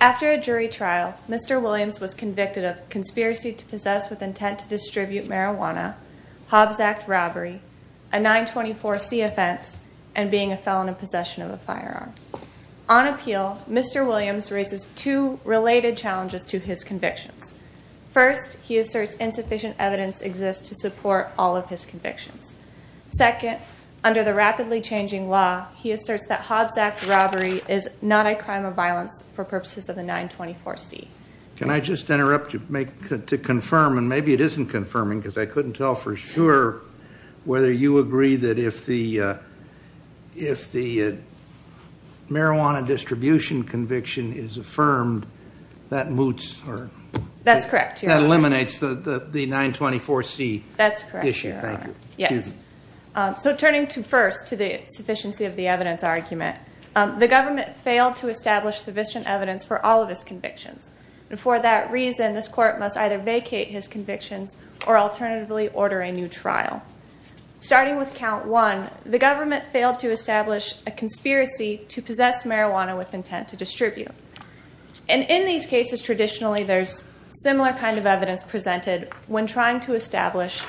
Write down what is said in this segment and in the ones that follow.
After a jury trial, Mr. Williams was convicted of conspiracy to possess with intent to distribute marijuana, Hobbs Act robbery, a 924c offense, and being a felon in possession of a firearm. On appeal, Mr. Williams raises two related challenges to his convictions. First, he asserts insufficient evidence exists to support all of his convictions. Second, under the rapidly changing law, he asserts that Hobbs Act robbery is not a crime of violence for purposes of the 924c. Can I just interrupt you to confirm, and maybe it isn't confirming because I couldn't tell for sure, whether you agree that if the marijuana distribution conviction is affirmed, that moots or eliminates the 924c issue. So turning first to the sufficiency of the evidence argument, the government failed to establish sufficient evidence for all of his convictions. And for that reason, this court must either vacate his convictions or alternatively order a new trial. Starting with count one, the government failed to establish a conspiracy to possess marijuana with intent to distribute. And in these cases, traditionally there's similar kind of evidence presented when trying to establish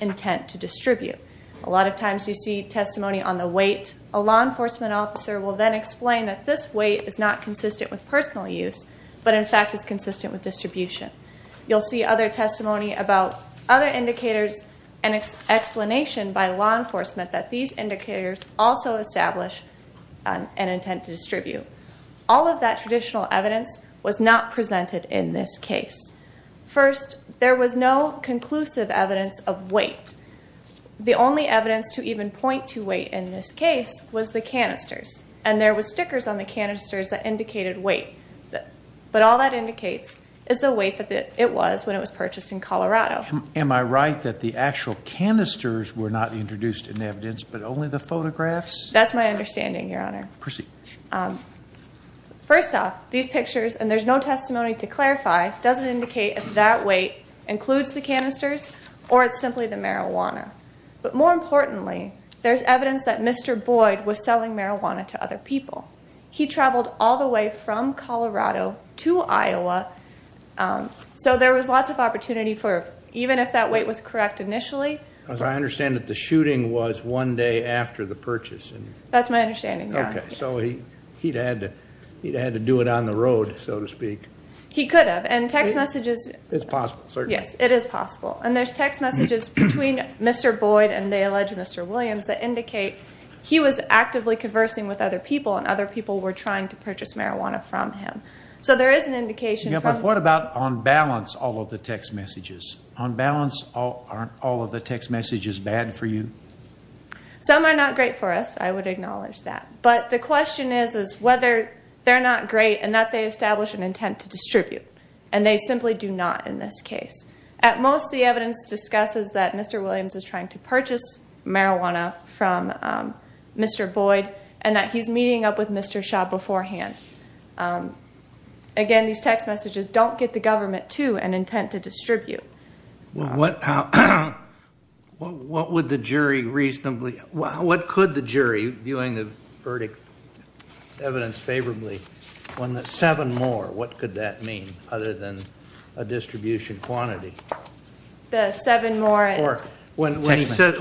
intent to distribute. A lot of times you see testimony on the weight. A law enforcement officer will then explain that this weight is not consistent with personal use, but in fact is consistent with distribution. You'll see other testimony about other indicators and explanation by law enforcement that these indicators also establish an intent to distribute. All of that traditional evidence was not presented in this case. First, there was no conclusive evidence of weight. The only evidence to even point to weight in this case was the canisters. And there was stickers on the canisters that indicated weight. But all that indicates is the weight that it was when it was purchased in Colorado. Am I right that the actual canisters were not introduced in evidence, but only the photographs? That's my understanding, Your Honor. Proceed. First off, these pictures, and there's no testimony to clarify, doesn't indicate if that weight includes the canisters or it's simply the marijuana. But more importantly, there's evidence that Mr. Boyd was selling marijuana to other people. He traveled all the way from Colorado to Iowa. So there was lots of opportunity for, even if that weight was correct initially. As I understand it, the shooting was one day after the purchase. That's my understanding, Your Honor. Okay, so he'd had to do it on the road, so to speak. He could have. And text messages. It's possible, certainly. Yes, it is possible. And there's text messages between Mr. Boyd and the alleged Mr. Williams that indicate he was actively conversing with other people, and other people were trying to purchase marijuana from him. So there is an indication from. Yeah, but what about on balance all of the text messages? On balance, aren't all of the text messages bad for you? Some are not great for us. I would acknowledge that. But the question is whether they're not great and that they establish an intent to distribute. And they simply do not in this case. At most, the evidence discusses that Mr. Williams is trying to purchase marijuana from Mr. Boyd and that he's meeting up with Mr. Shaw beforehand. Again, these text messages don't get the government to an intent to distribute. Well, what would the jury reasonably, what could the jury, viewing the verdict evidence favorably, when the seven more, what could that mean other than a distribution quantity? The seven more. Or when he says,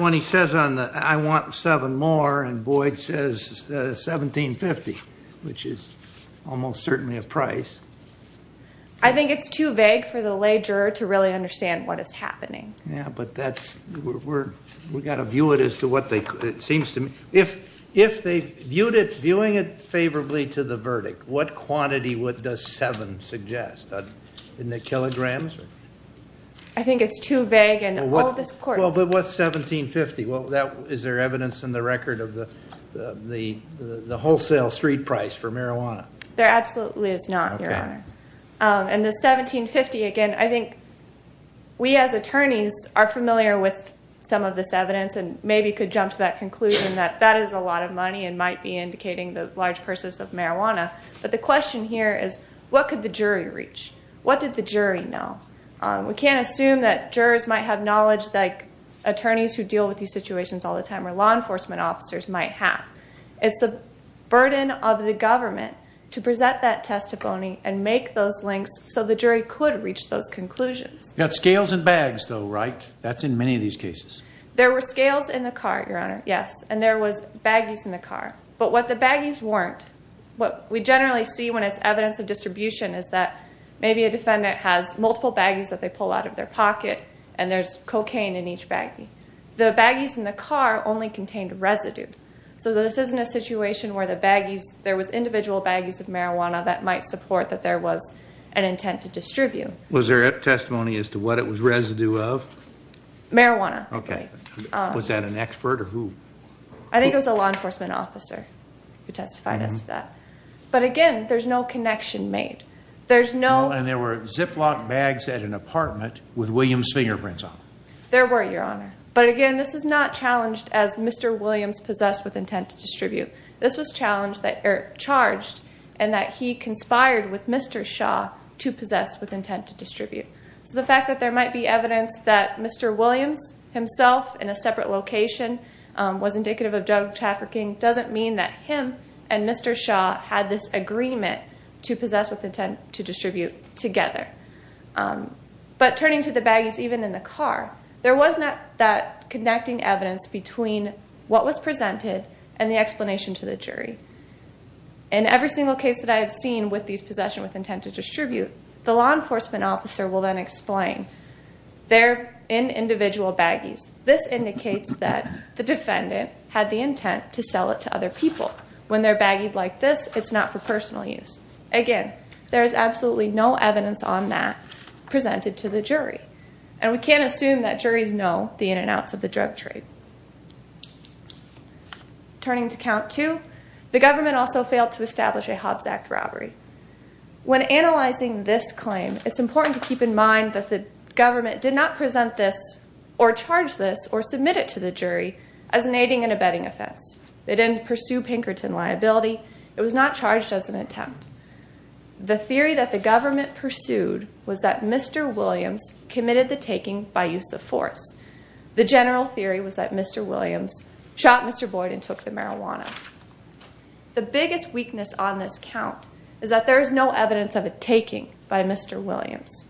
I want seven more, and Boyd says 17.50, which is almost certainly a price. I think it's too vague for the lay juror to really understand what is happening. Yeah, but that's, we've got to view it as to what they, it seems to me, if they viewed it, viewing it favorably to the verdict, what quantity does seven suggest? In the kilograms? I think it's too vague and all this court. Well, but what's 17.50? Is there evidence in the record of the wholesale street price for marijuana? There absolutely is not, Your Honor. And the 17.50, again, I think we as attorneys are familiar with some of this evidence and maybe could jump to that conclusion that that is a lot of money and might be indicating the large purchase of marijuana. But the question here is, what could the jury reach? What did the jury know? We can't assume that jurors might have knowledge like attorneys who deal with these situations all the time or law enforcement officers might have. It's the burden of the government to present that testimony and make those links so the jury could reach those conclusions. You've got scales and bags, though, right? That's in many of these cases. There were scales in the car, Your Honor, yes, and there was baggies in the car. But what the baggies weren't, what we generally see when it's evidence of distribution is that maybe a defendant has multiple baggies that they pull out of their pocket and there's cocaine in each baggie. The baggies in the car only contained residue. So this isn't a situation where there was individual baggies of marijuana that might support that there was an intent to distribute. Was there testimony as to what it was residue of? Marijuana. Was that an expert or who? I think it was a law enforcement officer who testified as to that. But again, there's no connection made. And there were Ziploc bags at an apartment with Williams' fingerprints on them. There were, Your Honor. But again, this is not challenged as Mr. Williams possessed with intent to distribute. This was charged in that he conspired with Mr. Shaw to possess with intent to distribute. So the fact that there might be evidence that Mr. Williams himself in a separate location was indicative of drug trafficking doesn't mean that him and Mr. Shaw had this agreement to possess with intent to distribute together. But turning to the baggies even in the car, there was not that connecting evidence between what was presented and the explanation to the jury. In every single case that I have seen with these possession with intent to distribute, the law enforcement officer will then explain. They're in individual baggies. This indicates that the defendant had the intent to sell it to other people. When they're baggied like this, it's not for personal use. Again, there is absolutely no evidence on that presented to the jury, and we can't assume that juries know the ins and outs of the drug trade. Turning to count two, the government also failed to establish a Hobbs Act robbery. When analyzing this claim, it's important to keep in mind that the government did not present this or charge this or submit it to the jury as an aiding and abetting offense. They didn't pursue Pinkerton liability. It was not charged as an attempt. The theory that the government pursued was that Mr. Williams committed the taking by use of force. The general theory was that Mr. Williams shot Mr. Boyd and took the marijuana. The biggest weakness on this count is that there is no evidence of a taking by Mr. Williams.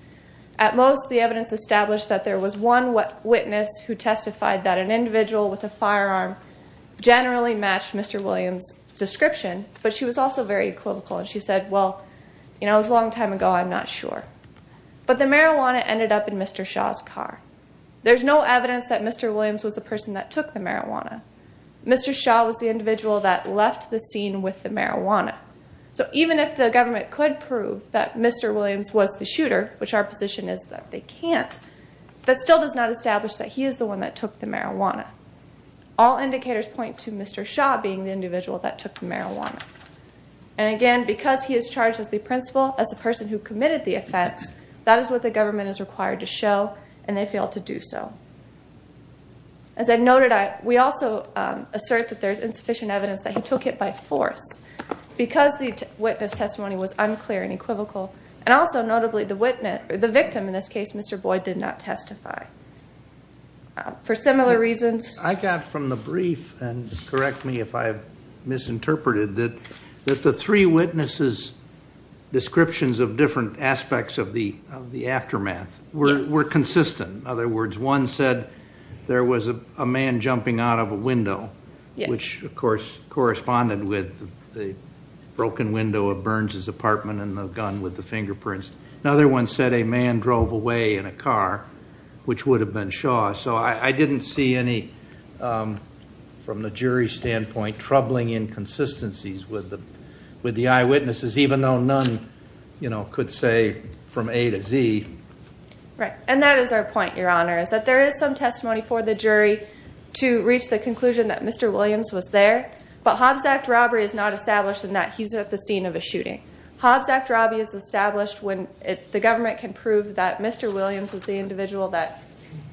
At most, the evidence established that there was one witness who testified that an individual with a firearm generally matched Mr. Williams' description, but she was also very equivocal, and she said, well, you know, it was a long time ago, I'm not sure. But the marijuana ended up in Mr. Shaw's car. There's no evidence that Mr. Williams was the person that took the marijuana. Mr. Shaw was the individual that left the scene with the marijuana. So even if the government could prove that Mr. Williams was the shooter, which our position is that they can't, that still does not establish that he is the one that took the marijuana. All indicators point to Mr. Shaw being the individual that took the marijuana. And, again, because he is charged as the principal, as the person who committed the offense, that is what the government is required to show, and they failed to do so. As I noted, we also assert that there is insufficient evidence that he took it by force because the witness testimony was unclear and equivocal. And also, notably, the victim in this case, Mr. Boyd, did not testify for similar reasons. I got from the brief, and correct me if I've misinterpreted, that the three witnesses' descriptions of different aspects of the aftermath were consistent. In other words, one said there was a man jumping out of a window, which, of course, corresponded with the broken window of Burns' apartment and the gun with the fingerprints. Another one said a man drove away in a car, which would have been Shaw. So I didn't see any, from the jury's standpoint, troubling inconsistencies with the eyewitnesses, even though none could say from A to Z. Right, and that is our point, Your Honor, is that there is some testimony for the jury to reach the conclusion that Mr. Williams was there, but Hobbs Act robbery is not established in that he's at the scene of a shooting. Hobbs Act robbery is established when the government can prove that Mr. Williams was the individual that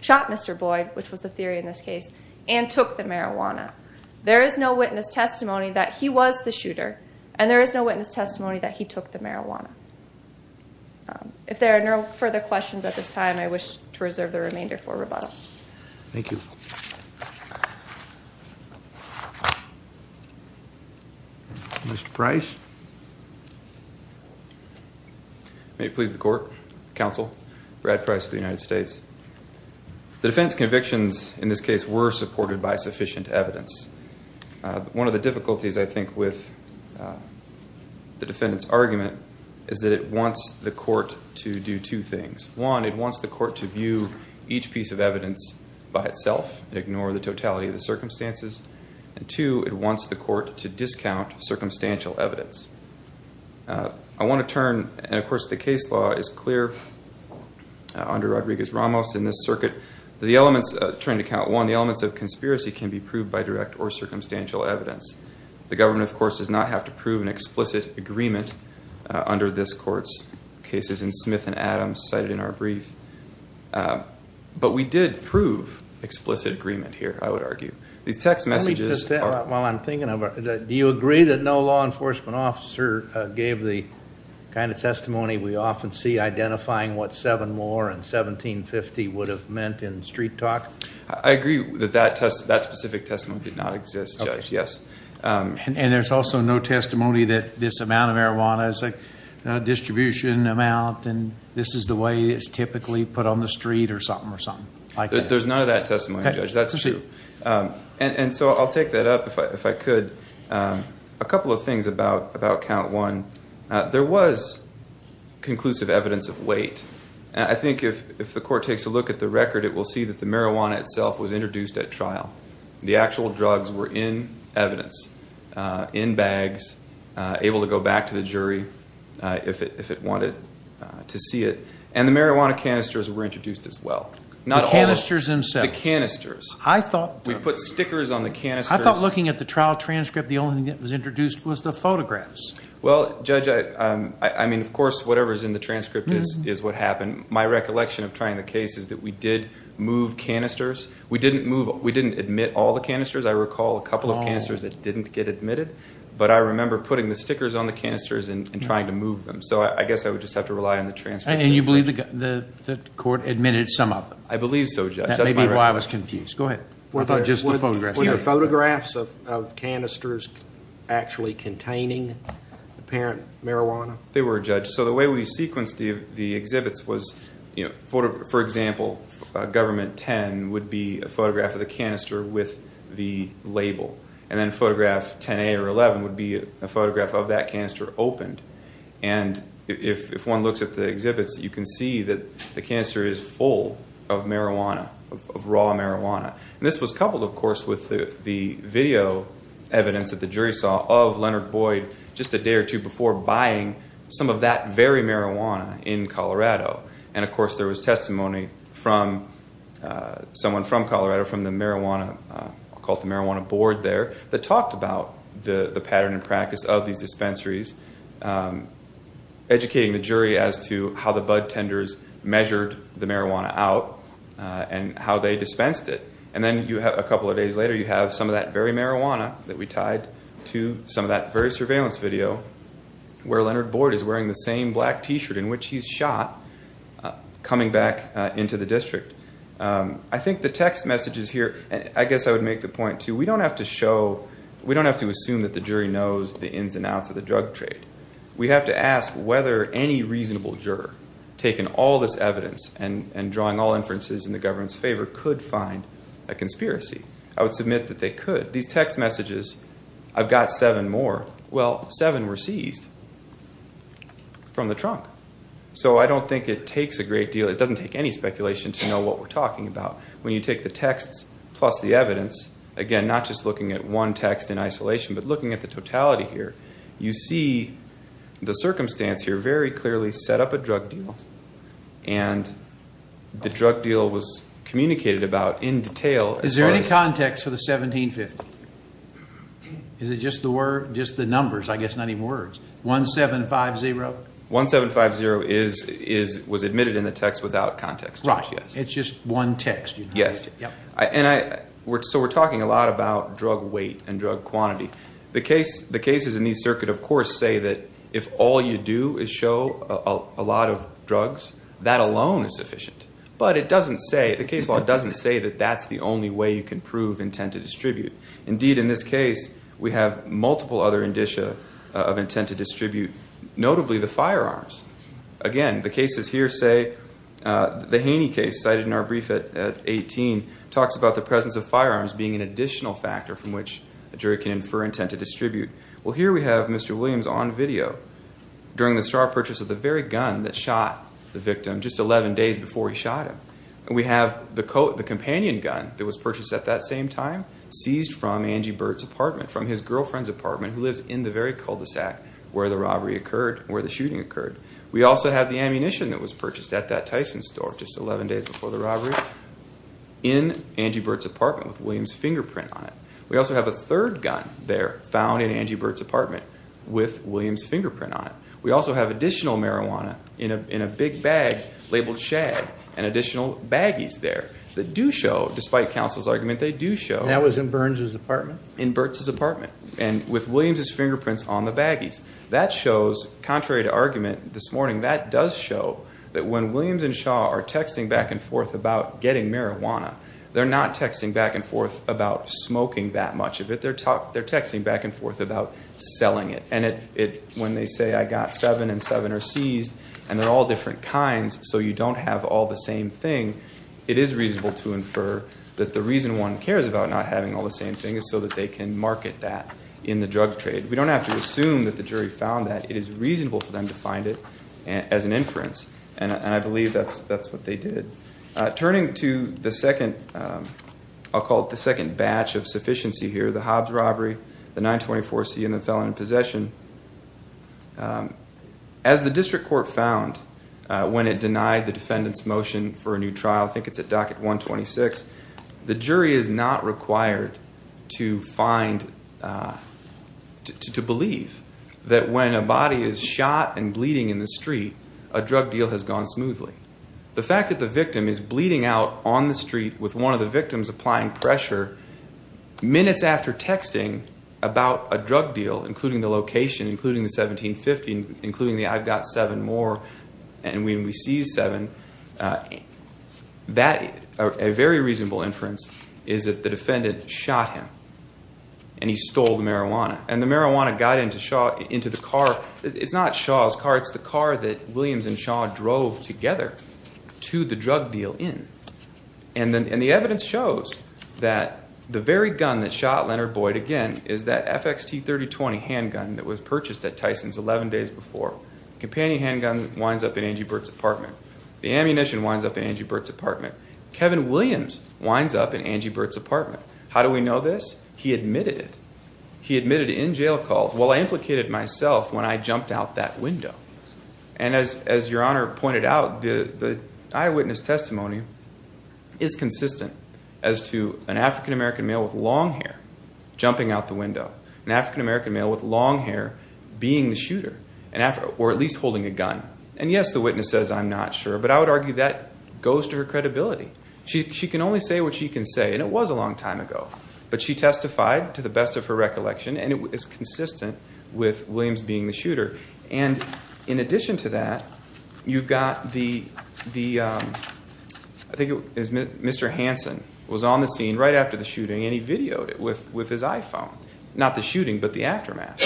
shot Mr. Boyd, which was the theory in this case, and took the marijuana. There is no witness testimony that he was the shooter, and there is no witness testimony that he took the marijuana. If there are no further questions at this time, I wish to reserve the remainder for rebuttal. Thank you. Mr. Price. May it please the Court, Counsel, Brad Price of the United States. The defense convictions in this case were supported by sufficient evidence. One of the difficulties, I think, with the defendant's argument is that it wants the court to do two things. One, it wants the court to view each piece of evidence by itself and ignore the totality of the circumstances, and two, it wants the court to discount circumstantial evidence. I want to turn, and of course the case law is clear under Rodriguez-Ramos in this circuit, the elements of conspiracy can be proved by direct or circumstantial evidence. The government, of course, does not have to prove an explicit agreement under this court's cases and Smith and Adams cited in our brief. But we did prove explicit agreement here, I would argue. These text messages are- While I'm thinking of it, do you agree that no law enforcement officer gave the kind of testimony we often see identifying what seven more and 1750 would have meant in street talk? I agree that that specific testimony did not exist, Judge, yes. And there's also no testimony that this amount of marijuana is a distribution amount and this is the way it's typically put on the street or something like that. There's none of that testimony, Judge, that's true. And so I'll take that up if I could. A couple of things about count one. There was conclusive evidence of weight. I think if the court takes a look at the record, it will see that the marijuana itself was introduced at trial. The actual drugs were in evidence, in bags, able to go back to the jury if it wanted to see it. And the marijuana canisters were introduced as well. The canisters themselves? The canisters. I thought- We put stickers on the canisters. I thought looking at the trial transcript, the only thing that was introduced was the photographs. Well, Judge, I mean, of course, whatever is in the transcript is what happened. My recollection of trying the case is that we did move canisters. We didn't admit all the canisters. I recall a couple of canisters that didn't get admitted, but I remember putting the stickers on the canisters and trying to move them. So I guess I would just have to rely on the transcript. And you believe the court admitted some of them? I believe so, Judge. That may be why I was confused. Go ahead. I thought just the photographs. Were the photographs of canisters actually containing apparent marijuana? They were, Judge. So the way we sequenced the exhibits was, for example, Government 10 would be a photograph of the canister with the label. And then Photograph 10A or 11 would be a photograph of that canister opened. And if one looks at the exhibits, you can see that the canister is full of marijuana, of raw marijuana. And this was coupled, of course, with the video evidence that the jury saw of Leonard Boyd just a day or two before buying some of that very marijuana in Colorado. And, of course, there was testimony from someone from Colorado, from the Marijuana Board there, that talked about the pattern and practice of these dispensaries, educating the jury as to how the bud tenders measured the marijuana out and how they dispensed it. And then a couple of days later you have some of that very marijuana that we tied to some of that very surveillance video where Leonard Boyd is wearing the same black T-shirt in which he's shot coming back into the district. I think the text messages here, I guess I would make the point, too, we don't have to assume that the jury knows the ins and outs of the drug trade. We have to ask whether any reasonable juror, taking all this evidence and drawing all inferences in the government's favor, could find a conspiracy. I would submit that they could. But these text messages, I've got seven more. Well, seven were seized from the trunk. So I don't think it takes a great deal. It doesn't take any speculation to know what we're talking about. When you take the texts plus the evidence, again, not just looking at one text in isolation but looking at the totality here, you see the circumstance here very clearly set up a drug deal. And the drug deal was communicated about in detail. Is there any context for the 1750? Is it just the numbers, I guess, not even words? 1750? 1750 was admitted in the text without context. Right. It's just one text. Yes. So we're talking a lot about drug weight and drug quantity. The cases in these circuits, of course, say that if all you do is show a lot of drugs, that alone is sufficient. But it doesn't say, the case law doesn't say that that's the only way you can prove intent to distribute. Indeed, in this case, we have multiple other indicia of intent to distribute, notably the firearms. Again, the cases here say the Haney case cited in our brief at 18 talks about the presence of firearms being an additional factor from which a jury can infer intent to distribute. Well, here we have Mr. Williams on video during the sharp purchase of the very gun that shot the victim just 11 days before he shot him. And we have the companion gun that was purchased at that same time, seized from Angie Burt's apartment, from his girlfriend's apartment, who lives in the very cul-de-sac where the robbery occurred, where the shooting occurred. We also have the ammunition that was purchased at that Tyson store just 11 days before the robbery, in Angie Burt's apartment with Williams' fingerprint on it. We also have a third gun there found in Angie Burt's apartment with Williams' fingerprint on it. We also have additional marijuana in a big bag labeled shag and additional baggies there that do show, despite counsel's argument, they do show. That was in Burns' apartment? In Burts' apartment and with Williams' fingerprints on the baggies. That shows, contrary to argument this morning, that does show that when Williams and Shaw are texting back and forth about getting marijuana, they're not texting back and forth about smoking that much of it. They're texting back and forth about selling it. When they say, I got seven and seven are seized, and they're all different kinds, so you don't have all the same thing, it is reasonable to infer that the reason one cares about not having all the same thing is so that they can market that in the drug trade. We don't have to assume that the jury found that. It is reasonable for them to find it as an inference, and I believe that's what they did. Turning to the second, I'll call it the second batch of sufficiency here, the Hobbs robbery, the 924C, and the felon in possession, as the district court found when it denied the defendant's motion for a new trial, I think it's at docket 126, the jury is not required to believe that when a body is shot and bleeding in the street, a drug deal has gone smoothly. The fact that the victim is bleeding out on the street with one of the victims applying pressure, minutes after texting about a drug deal, including the location, including the 1750, including the I've got seven more, and we seized seven, a very reasonable inference is that the defendant shot him, and he stole the marijuana. And the marijuana got into the car. It's not Shaw's car. It's the car that Williams and Shaw drove together to the drug deal in. And the evidence shows that the very gun that shot Leonard Boyd again is that FXT3020 handgun that was purchased at Tyson's 11 days before. Companion handgun winds up in Angie Burt's apartment. The ammunition winds up in Angie Burt's apartment. Kevin Williams winds up in Angie Burt's apartment. How do we know this? He admitted it. He admitted it in jail calls. Well, I implicated myself when I jumped out that window. And as your Honor pointed out, the eyewitness testimony is consistent as to an African-American male with long hair jumping out the window, an African-American male with long hair being the shooter, or at least holding a gun. And, yes, the witness says I'm not sure, but I would argue that goes to her credibility. She can only say what she can say. And it was a long time ago. But she testified, to the best of her recollection, and it's consistent with Williams being the shooter. And in addition to that, you've got the, I think it was Mr. Hansen was on the scene right after the shooting, and he videoed it with his iPhone. Not the shooting, but the aftermath.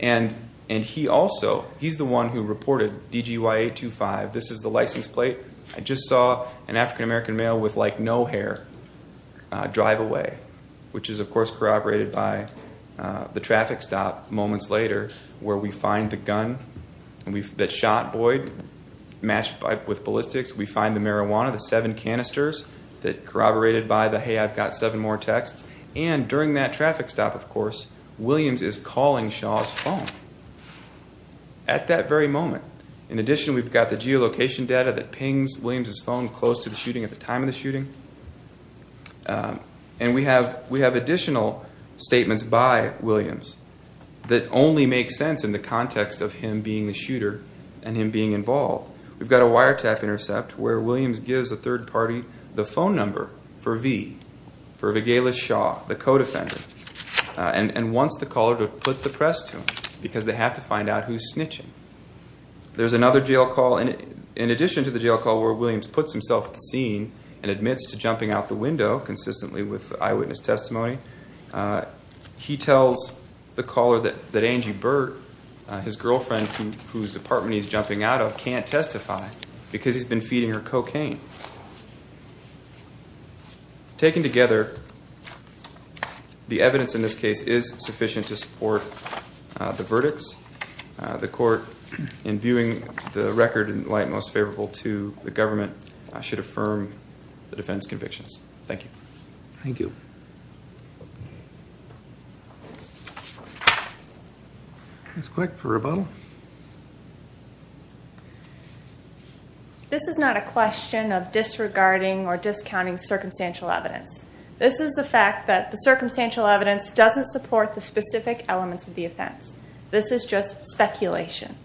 And he also, he's the one who reported DGYA-25. This is the license plate. I just saw an African-American male with, like, no hair drive away, which is, of course, corroborated by the traffic stop moments later, where we find the gun that shot Boyd matched with ballistics. We find the marijuana, the seven canisters that corroborated by the, hey, I've got seven more texts. And during that traffic stop, of course, Williams is calling Shaw's phone at that very moment. In addition, we've got the geolocation data that pings Williams' phone close to the shooting at the time of the shooting. And we have additional statements by Williams that only make sense in the context of him being the shooter and him being involved. We've got a wiretap intercept where Williams gives a third party the phone number for V, for Vigaila Shaw, the co-defendant, and wants the caller to put the press to him because they have to find out who's snitching. There's another jail call. In addition to the jail call where Williams puts himself at the scene and admits to jumping out the window consistently with eyewitness testimony, he tells the caller that Angie Burt, his girlfriend whose apartment he's jumping out of, can't testify because he's been feeding her cocaine. Taken together, the evidence in this case is sufficient to support the verdicts. The court, in viewing the record in light most favorable to the government, should affirm the defense convictions. Thank you. Thank you. Ms. Quick for rebuttal. Thank you. This is not a question of disregarding or discounting circumstantial evidence. This is the fact that the circumstantial evidence doesn't support the specific elements of the offense. This is just speculation.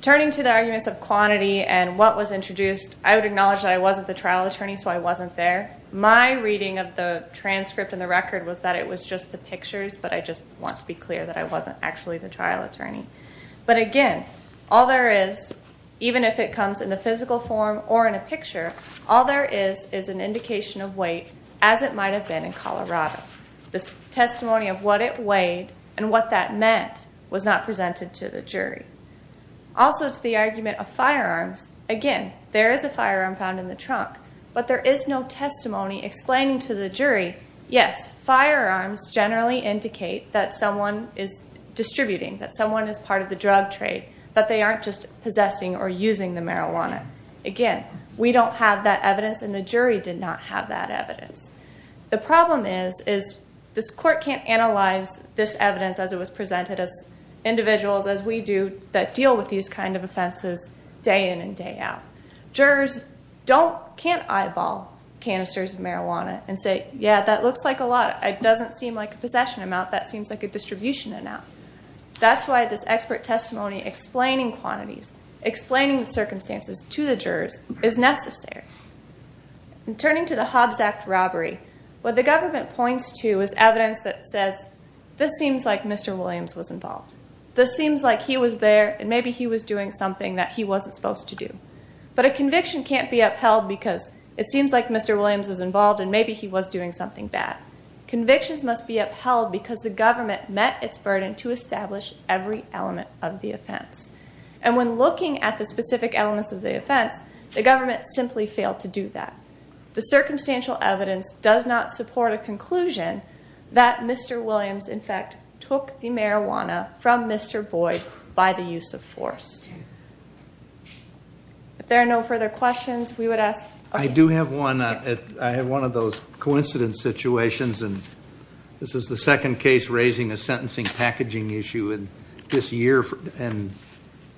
Turning to the arguments of quantity and what was introduced, I would acknowledge that I wasn't the trial attorney, so I wasn't there. My reading of the transcript and the record was that it was just the pictures, but I just want to be clear that I wasn't actually the trial attorney. But, again, all there is, even if it comes in the physical form or in a picture, all there is is an indication of weight, as it might have been in Colorado. The testimony of what it weighed and what that meant was not presented to the jury. Also, to the argument of firearms, again, there is a firearm found in the trunk, but there is no testimony explaining to the jury, yes, firearms generally indicate that someone is distributing, that someone is part of the drug trade, that they aren't just possessing or using the marijuana. Again, we don't have that evidence and the jury did not have that evidence. The problem is this court can't analyze this evidence as it was presented, as individuals, as we do, that deal with these kinds of offenses day in and day out. Jurors can't eyeball canisters of marijuana and say, yeah, that looks like a lot. It doesn't seem like a possession amount. That seems like a distribution amount. That's why this expert testimony explaining quantities, explaining the circumstances to the jurors, is necessary. In turning to the Hobbs Act robbery, what the government points to is evidence that says, this seems like Mr. Williams was involved. This seems like he was there and maybe he was doing something that he wasn't supposed to do. But a conviction can't be upheld because it seems like Mr. Williams was involved and maybe he was doing something bad. Convictions must be upheld because the government met its burden to establish every element of the offense. And when looking at the specific elements of the offense, the government simply failed to do that. The circumstantial evidence does not support a conclusion that Mr. Williams, in fact, took the marijuana from Mr. Boyd by the use of force. If there are no further questions, we would ask. I do have one. I have one of those coincidence situations. And this is the second case raising a sentencing packaging issue in this year, and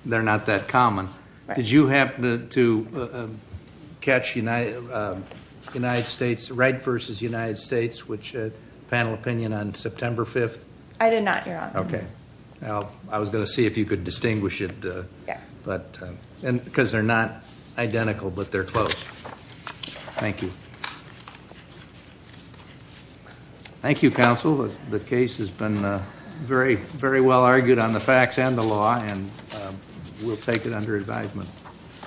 they're not that common. Did you happen to catch United States, Wright versus United States, which panel opinion on September 5th? I did not, Your Honor. Okay. I was going to see if you could distinguish it. But because they're not identical, but they're close. Thank you. Thank you, counsel. The case has been very, very well argued on the facts and the law, and we'll take it under advisement.